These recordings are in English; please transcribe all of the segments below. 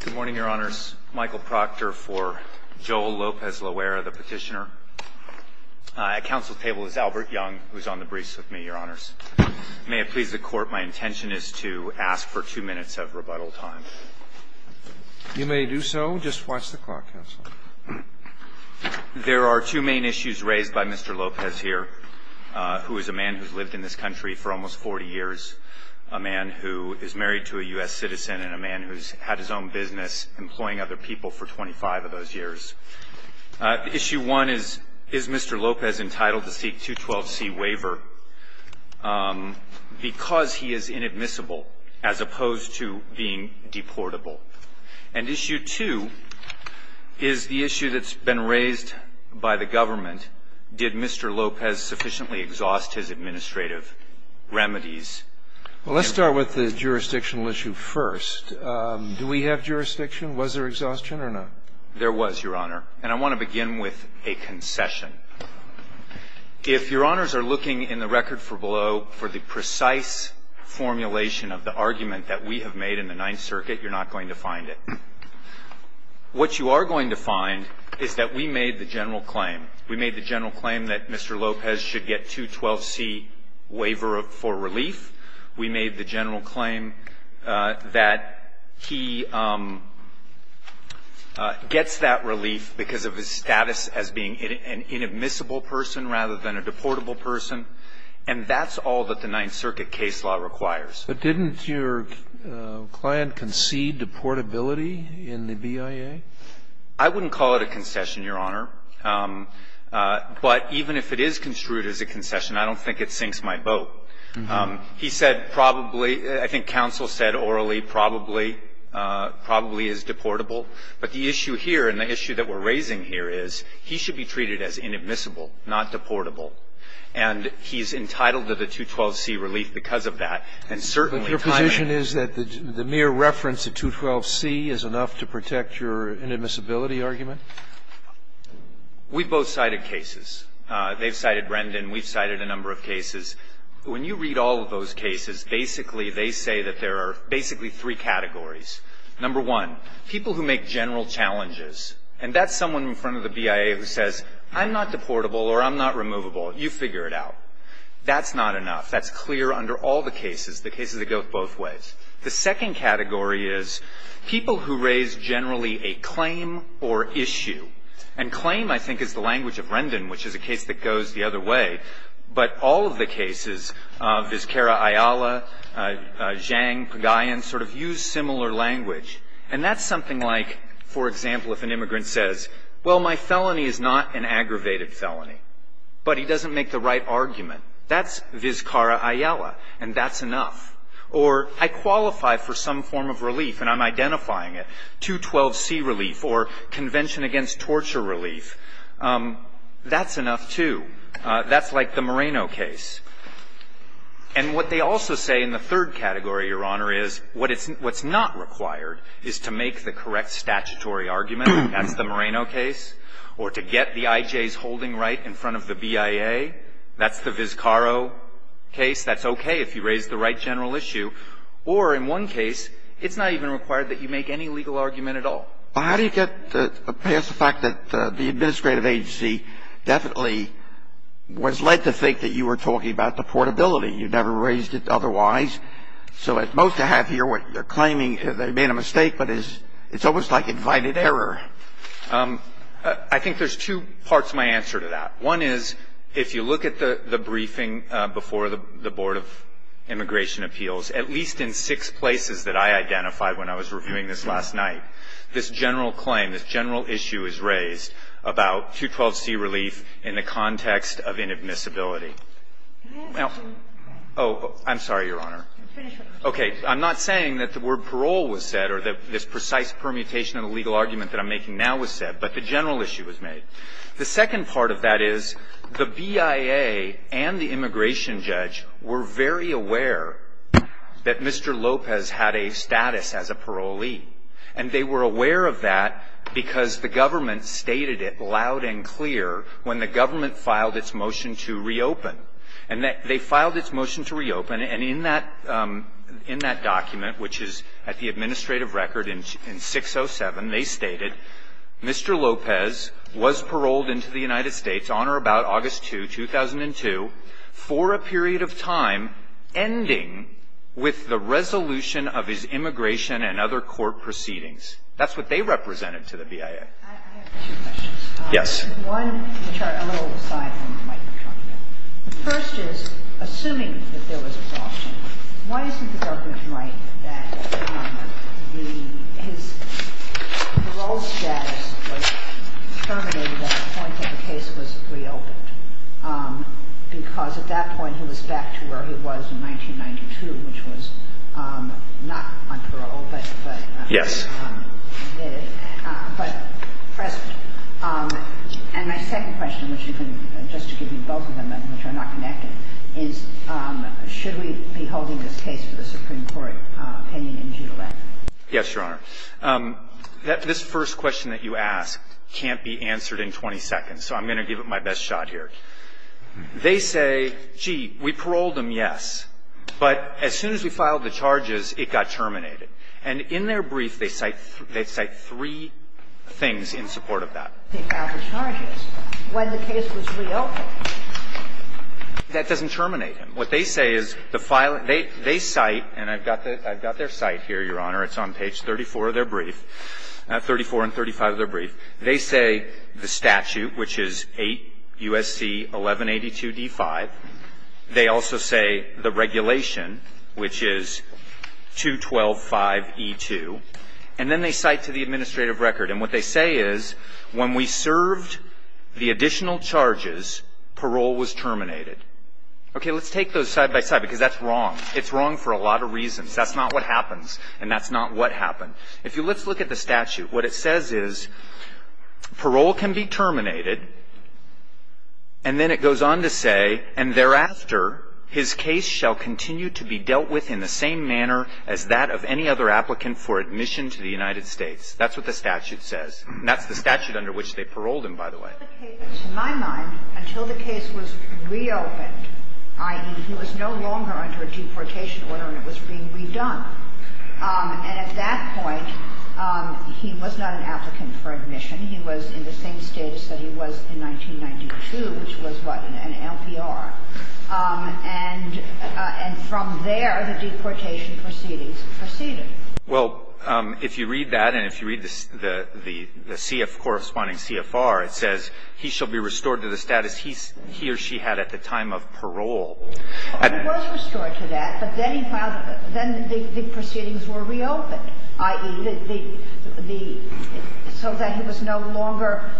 Good morning, Your Honors. Michael Proctor for Joel Lopez-Loera, the petitioner. At counsel's table is Albert Young, who is on the briefs with me, Your Honors. May it please the Court, my intention is to ask for two minutes of rebuttal time. You may do so, just watch the clock, Counselor. There are two main issues raised by Mr. Lopez here, who is a man who has lived in this country for almost 40 years, a man who is married to a U.S. citizen and a man who has had his own business employing other people for 25 of those years. Issue one is, is Mr. Lopez entitled to seek 212C waiver because he is inadmissible as opposed to being deportable? And issue two is the issue that's been raised by the government, did Mr. Lopez sufficiently exhaust his administrative remedies? Well, let's start with the jurisdictional issue first. Do we have jurisdiction? Was there exhaustion or not? There was, Your Honor. And I want to begin with a concession. If Your Honors are looking in the record for below for the precise formulation of the argument that we have made in the Ninth Circuit, you're not going to find it. What you are going to find is that we made the general claim. We made the general claim that Mr. Lopez should get 212C waiver for relief. We made the general claim that he gets that relief because of his status as being an inadmissible person rather than a deportable person. And that's all that the Ninth Circuit case law requires. But didn't your client concede deportability in the BIA? I wouldn't call it a concession, Your Honor. But even if it is construed as a concession, I don't think it sinks my boat. He said probably, I think counsel said orally, probably, probably is deportable. But the issue here and the issue that we're raising here is he should be treated as inadmissible, not deportable. And he's entitled to the 212C relief because of that. And certainly, time and age But your position is that the mere reference to 212C is enough to protect your inadmissibility argument? We've both cited cases. They've cited Brendan. We've cited a number of cases. When you read all of those cases, basically, they say that there are basically three categories. Number one, people who make general challenges. And that's someone in front of the BIA who says, I'm not deportable or I'm not removable. You figure it out. That's not enough. That's clear under all the cases, the cases that go both ways. The second category is people who raise generally a claim or issue. And claim, I think, is the language of Brendan, which is a case that goes the other way. But all of the cases, Vizcarra-Ayala, Zhang, Pagayan, sort of use similar language. And that's something like, for example, if an immigrant says, well, my felony is not an aggravated felony, but he doesn't make the right argument, that's Vizcarra-Ayala, and that's enough. Or, I qualify for some form of relief, and I'm identifying it, 212C relief, or Convention Against Torture relief. That's enough, too. That's like the Moreno case. And what they also say in the third category, Your Honor, is what it's not required is to make the correct statutory argument. That's the Moreno case. Or to get the I.J.'s holding right in front of the BIA. That's the Vizcarra case. That's okay if you raise the right general issue. Or in one case, it's not even required that you make any legal argument at all. Well, how do you get past the fact that the administrative agency definitely was led to think that you were talking about the portability? You never raised it otherwise. So what most have here, what you're claiming, they made a mistake, but it's almost like invited error. I think there's two parts of my answer to that. One is, if you look at the briefing before the Board of Immigration Appeals, at least in six places that I identified when I was reviewing this last night, this general claim, this general issue is raised about 212C relief in the context of inadmissibility. Now — oh, I'm sorry, Your Honor. Okay. I'm not saying that the word parole was said or that this precise permutation of the legal argument that I'm making now was said, but the general issue was made. The second part of that is, the BIA and the immigration judge were very aware that Mr. Lopez had a status as a parolee. And they were aware of that because the government stated it loud and clear when the government filed its motion to reopen. And they filed its motion to reopen, and in that document, which is at the administrative record in 607, they stated, Mr. Lopez was paroled into the United States on or about August 2, 2002, for a period of time ending with the resolution of his immigration and other court proceedings. That's what they represented to the BIA. I have two questions. Yes. One, a little aside from what Mike was talking about. The first is, assuming that there was a lawsuit, why isn't the government right that the — his parole status was terminated at the point that the case was reopened? Because at that point, he was back to where he was in 1992, which was not on parole, but — Yes. Yes, Your Honor. This first question that you ask can't be answered in 20 seconds, so I'm going to give it my best shot here. They say, gee, we paroled him, yes, but as soon as we filed the charges, it got terminated. And in their brief, they say, they cite three things in support of that. They filed the charges when the case was reopened. That doesn't terminate him. What they say is the filing — they cite, and I've got their cite here, Your Honor, it's on page 34 of their brief, 34 and 35 of their brief. They say the statute, which is 8 U.S.C. 1182d5. They also say the regulation, which is 212.5e2. And then they cite to the administrative record. And what they say is when we served the additional charges, parole was terminated. Okay. Let's take those side by side, because that's wrong. It's wrong for a lot of reasons. That's not what happens, and that's not what happened. If you let's look at the statute, what it says is parole can be terminated, and then it goes on to say, and thereafter his case shall continue to be dealt with in the same manner as that of any other applicant for admission to the United States. That's what the statute says. And that's the statute under which they paroled him, by the way. To my mind, until the case was reopened, i.e., he was no longer under a deportation order and it was being redone. And at that point, he was not an applicant for admission. He was in the same status that he was in 1992, which was, what, an LPR. And from there, the deportation proceedings proceeded. Well, if you read that and if you read the CF, corresponding CFR, it says, he shall be restored to the status he or she had at the time of parole. He was restored to that, but then he filed the, then the proceedings were reopened, i.e., the, the, so that he was no longer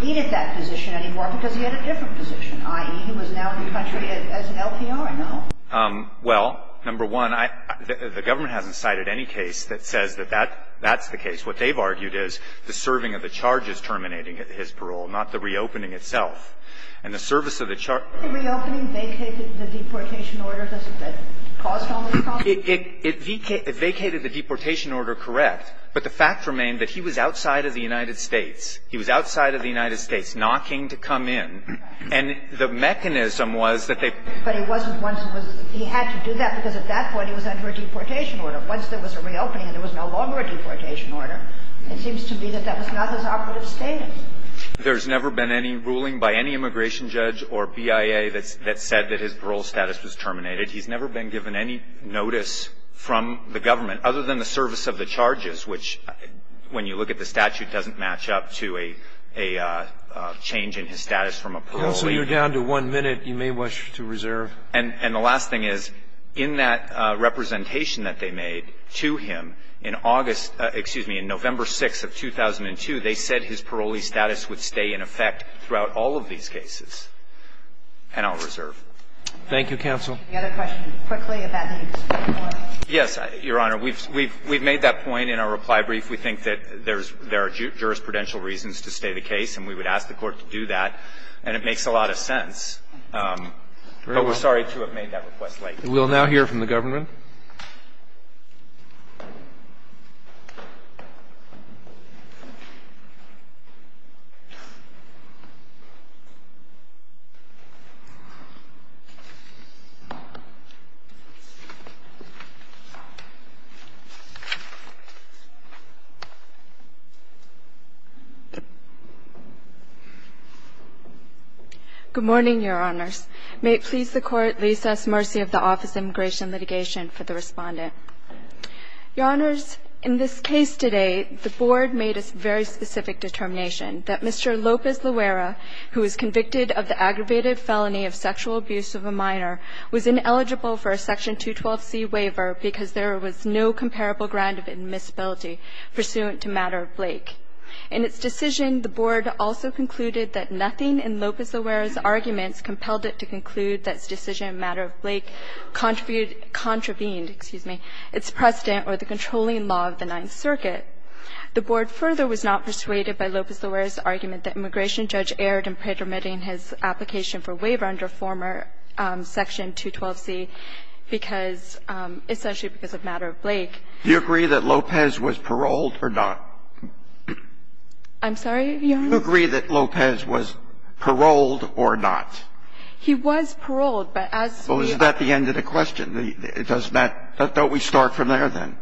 needed that position anymore because he had a different position, i.e., he was now in the country as an LPR, no? Well, number one, I, the government hasn't cited any case that says that that, that's the case. What they've argued is the serving of the charge is terminating his parole, not the reopening itself. And the service of the charge. The reopening vacated the deportation order that caused all this problem? It, it, it vacated, it vacated the deportation order, correct. But the fact remained that he was outside of the United States. He was outside of the United States, knocking to come in. And the mechanism was that they. But he wasn't once it was, he had to do that because at that point he was under a deportation order. Once there was a reopening and there was no longer a deportation order, it seems to be that that was not his operative status. There's never been any ruling by any immigration judge or BIA that's, that said that his parole status was terminated. He's never been given any notice from the government other than the service of the charges, which when you look at the statute doesn't match up to a, a change in his status from a parolee. Counsel, you're down to one minute. You may wish to reserve. And, and the last thing is, in that representation that they made to him in August excuse me, in November 6th of 2002, they said his parolee status would stay in effect throughout all of these cases. And I'll reserve. Thank you, counsel. The other question quickly about the. Yes, Your Honor. We've, we've, we've made that point in our reply brief. We think that there's, there are jurisprudential reasons to stay the case and we would ask the court to do that. And it makes a lot of sense. But we're sorry to have made that request late. We'll now hear from the government. Thank you. Good morning, Your Honors. May it please the Court, lease us mercy of the Office of Immigration Litigation for the Respondent. Your Honors, in this case today, the Board made a very specific determination that Mr. Lopez-Luera, who is convicted of the aggravated felony of sexual abuse of a minor, was ineligible for a Section 212c waiver because there was no comparable ground of admissibility pursuant to matter of Blake. In its decision, the Board also concluded that nothing in Lopez-Luera's arguments compelled it to conclude that its decision in matter of Blake contributed or contravened, excuse me, its precedent or the controlling law of the Ninth Circuit. The Board further was not persuaded by Lopez-Luera's argument that immigration judge erred in pretermitting his application for waiver under former Section 212c because, essentially because of matter of Blake. Do you agree that Lopez was paroled or not? I'm sorry, Your Honor? Do you agree that Lopez was paroled or not? He was paroled, but as we are at the end of the question, it doesn't matter. Don't we start from there, then?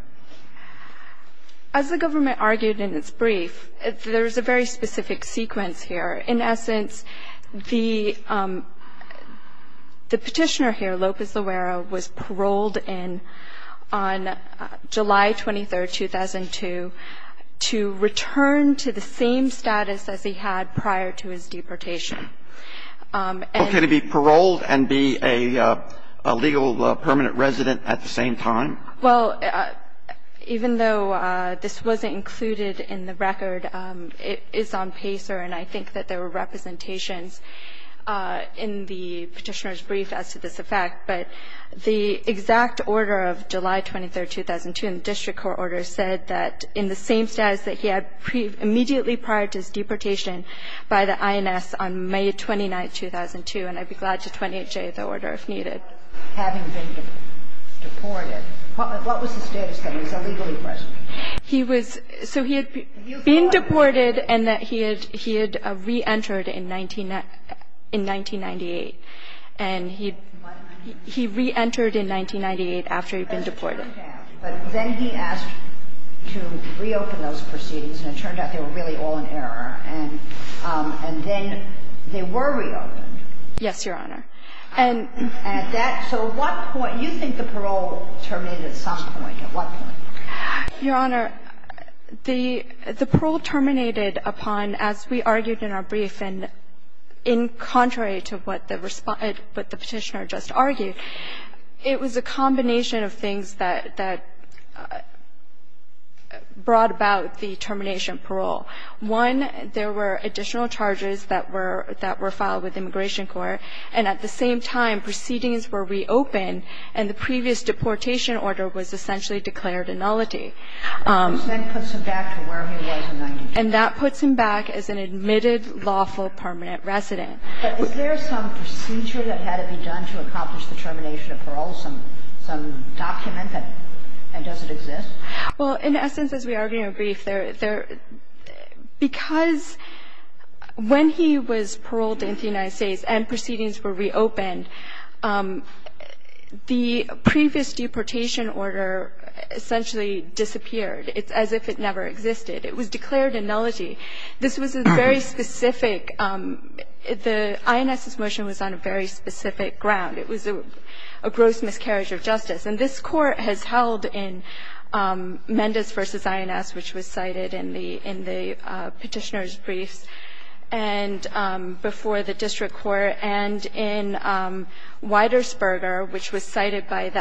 As the government argued in its brief, there is a very specific sequence here. In essence, the Petitioner here, Lopez-Luera, was paroled in on July 23, 2002 to return to the same status as he had prior to his deportation. Okay. To be paroled and be a legal permanent resident at the same time? Well, even though this wasn't included in the record, it is on PACER, and I think that there were representations in the Petitioner's brief as to this effect. But the exact order of July 23, 2002 in the district court order said that in the same status that he had immediately prior to his deportation by the INS on May 29, 2002, and I'd be glad to 28J the order if needed. Having been deported, what was the status of him? Was he legally present? He was so he had been deported and that he had reentered in 1998. And he reentered in 1998 after he'd been deported. Yes, Your Honor. But then he asked to reopen those proceedings, and it turned out they were really all in error. And then they were reopened. Yes, Your Honor. And at that point, you think the parole terminated at some point? At what point? Your Honor, the parole terminated upon, as we argued in our brief, and in contrary to what the Petitioner just argued, it was a combination of things that brought about the termination of parole. One, there were additional charges that were filed with the Immigration Court, and at the same time, proceedings were reopened and the previous deportation order was essentially declared annullity. And that puts him back to where he was in 1998. And that's a precedent. But is there some procedure that had to be done to accomplish the termination of parole, some document that doesn't exist? Well, in essence, as we argued in our brief, because when he was paroled in the United States and proceedings were reopened, the previous deportation order essentially disappeared. It's as if it never existed. It was declared annullity. This was a very specific – the INS's motion was on a very specific ground. It was a gross miscarriage of justice. And this Court has held in Mendez v. INS, which was cited in the Petitioner's briefs and before the district court, and in Widersberger, which was cited by the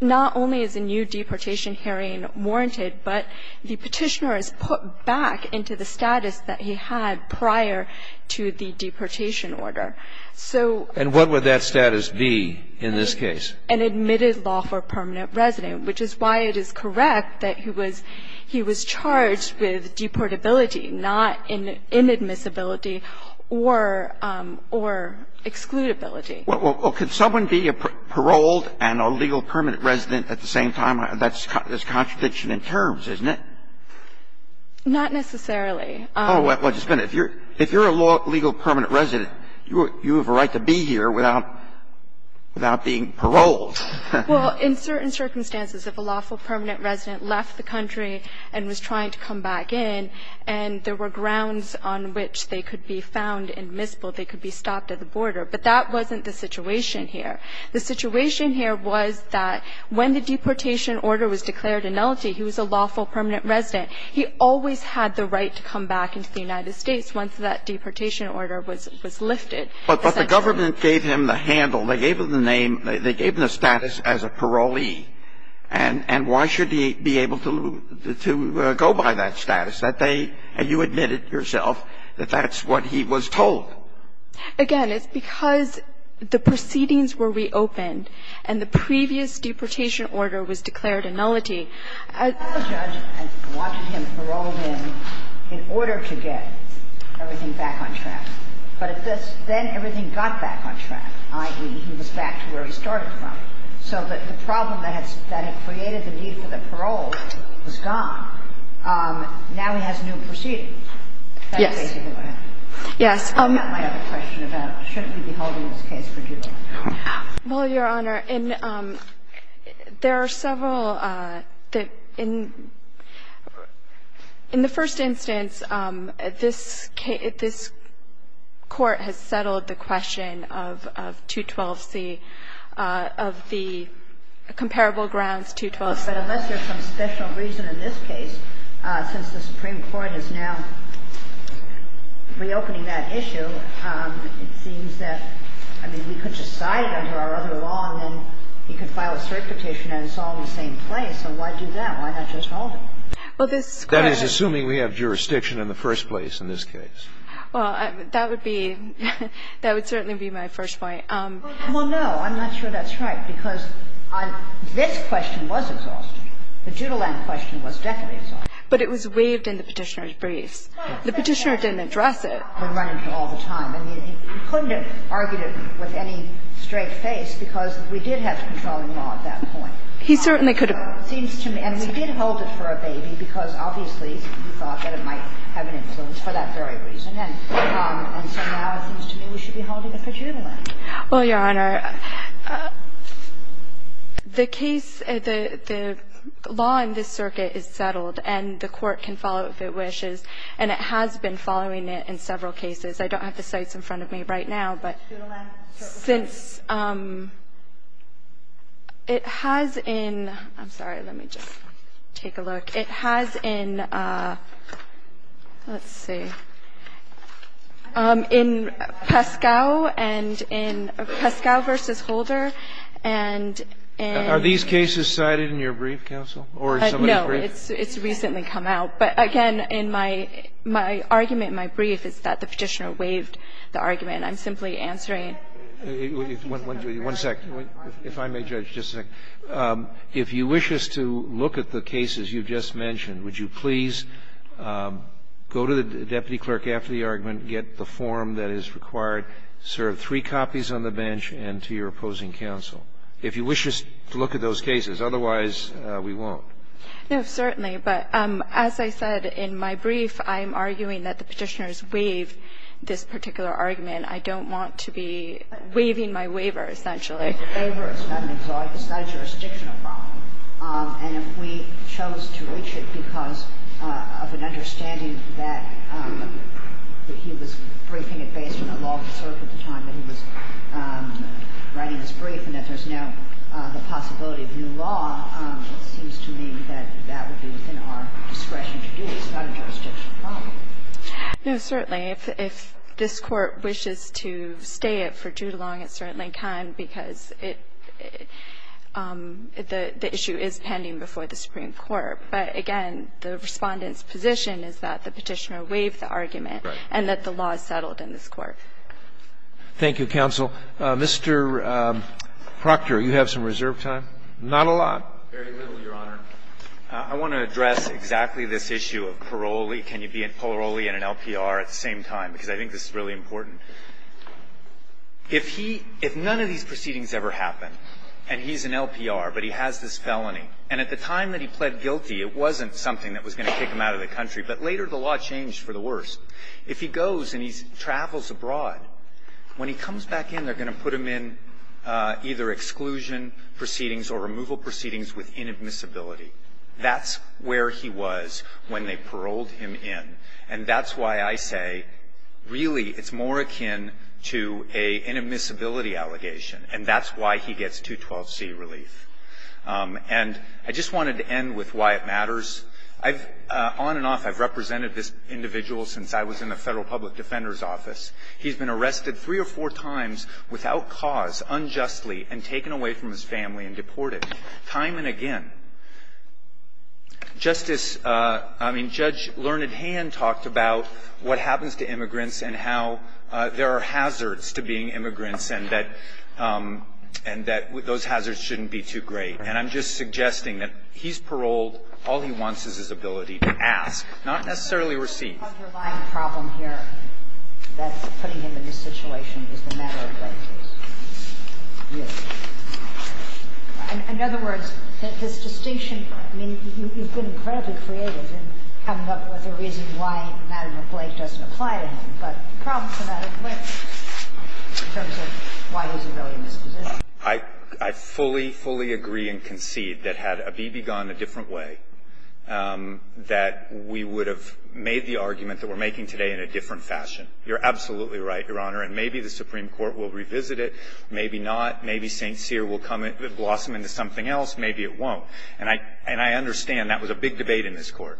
not only is a new deportation hearing warranted, but the Petitioner is put back into the status that he had prior to the deportation order. So – And what would that status be in this case? An admitted lawful permanent resident, which is why it is correct that he was charged with deportability, not inadmissibility or excludability. Well, could someone be a paroled and a legal permanent resident at the same time? That's a contradiction in terms, isn't it? Not necessarily. Oh, well, just a minute. If you're a lawful permanent resident, you have a right to be here without being paroled. Well, in certain circumstances, if a lawful permanent resident left the country and was trying to come back in, and there were grounds on which they could be found inadmissible, they could be stopped at the border. But that wasn't the situation here. The situation here was that when the deportation order was declared a nullity, he was a lawful permanent resident. He always had the right to come back into the United States once that deportation order was lifted. But the government gave him the handle. They gave him the name. They gave him the status as a parolee. And why should he be able to go by that status? And you admitted yourself that that's what he was told. Again, it's because the proceedings were reopened and the previous deportation order was declared a nullity. The judge wanted him paroled in in order to get everything back on track. But then everything got back on track, i.e., he was back to where he started from. So the problem that had created the need for the parole was gone. Now he has new proceedings. That's basically what happened. And that might have a question about, shouldn't he be holding this case for due life? Well, Your Honor, there are several. In the first instance, this court has settled the question of 212C, of the comparable grounds, 212C. But unless there's some special reason in this case, since the Supreme Court is now reopening that issue, it seems that, I mean, we could just cite it under our other law and then he could file a cert petition and it's all in the same place. So why do that? Why not just hold it? That is, assuming we have jurisdiction in the first place in this case. Well, that would be my first point. Well, no. I'm not sure that's right. Because this question was exhaustive. The Judiland question was definitely exhaustive. But it was waived in the Petitioner's briefs. The Petitioner didn't address it. We run into it all the time. I mean, he couldn't have argued it with any straight face because we did have the controlling law at that point. He certainly could have. It seems to me. And we did hold it for a baby because obviously he thought that it might have an influence for that very reason. And so now it seems to me we should be holding it for Judiland. Well, Your Honor, the case, the law in this circuit is settled, and the Court can follow it if it wishes. And it has been following it in several cases. I don't have the sites in front of me right now. But since it has in – I'm sorry. Let me just take a look. It has in, let's see, in Pascow and in Pascow v. Holder and in – Are these cases cited in your brief, counsel, or is somebody's brief? No. It's recently come out. But again, in my – my argument in my brief is that the Petitioner waived the argument. I'm simply answering – One second. If I may, Judge, just a second. If you wish us to look at the cases you just mentioned, would you please go to the deputy clerk after the argument, get the form that is required, serve three copies on the bench, and to your opposing counsel. If you wish us to look at those cases. Otherwise, we won't. No, certainly. But as I said in my brief, I'm arguing that the Petitioner's waived this particular argument. I don't want to be waiving my waiver, essentially. It's not a jurisdictional problem. And if we chose to reach it because of an understanding that he was briefing it based on the law of the circuit at the time that he was writing this brief, and that there's now the possibility of new law, it seems to me that that would be within our discretion to do. It's not a jurisdictional problem. No, certainly. If this Court wishes to stay it for too long, it certainly can, because it the issue is pending before the Supreme Court. But again, the Respondent's position is that the Petitioner waived the argument and that the law is settled in this Court. Thank you, counsel. Mr. Proctor, you have some reserve time? Not a lot. Very little, Your Honor. I want to address exactly this issue of parolee. I don't want to be in an LPR at the same time, because I think this is really important. If he – if none of these proceedings ever happen, and he's an LPR, but he has this felony, and at the time that he pled guilty, it wasn't something that was going to kick him out of the country, but later the law changed for the worse. If he goes and he travels abroad, when he comes back in, they're going to put him in either exclusion proceedings or removal proceedings with inadmissibility. That's where he was when they paroled him in. And that's why I say, really, it's more akin to an inadmissibility allegation, and that's why he gets 212C relief. And I just wanted to end with why it matters. I've – on and off, I've represented this individual since I was in the Federal Public Defender's Office. He's been arrested three or four times without cause, unjustly, and taken away from his family and deported, time and again. Justice – I mean, Judge Learned Hand talked about what happens to immigrants and how there are hazards to being immigrants and that – and that those hazards shouldn't be too great. And I'm just suggesting that he's paroled. All he wants is his ability to ask, not necessarily receive. The underlying problem here that's putting him in this situation is the matter of basis. In other words, his distinction – I mean, you've been incredibly creative in coming up with a reason why madame McBlake doesn't apply to him, but the problems are not as clear in terms of why he's a really mispositioned. I fully, fully agree and concede that had Abibi gone a different way, that we would have made the argument that we're making today in a different fashion. You're absolutely right, Your Honor, and maybe the Supreme Court will revisit it. Maybe not. Maybe St. Cyr will come and blossom into something else. Maybe it won't. And I understand that was a big debate in this Court.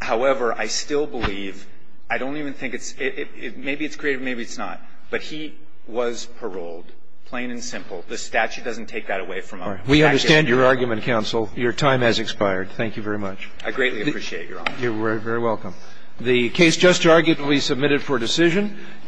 However, I still believe – I don't even think it's – maybe it's creative, maybe it's not. But he was paroled, plain and simple. The statute doesn't take that away from us. We understand your argument, counsel. Your time has expired. Thank you very much. I greatly appreciate it, Your Honor. You're very welcome. The case just arguably submitted for decision.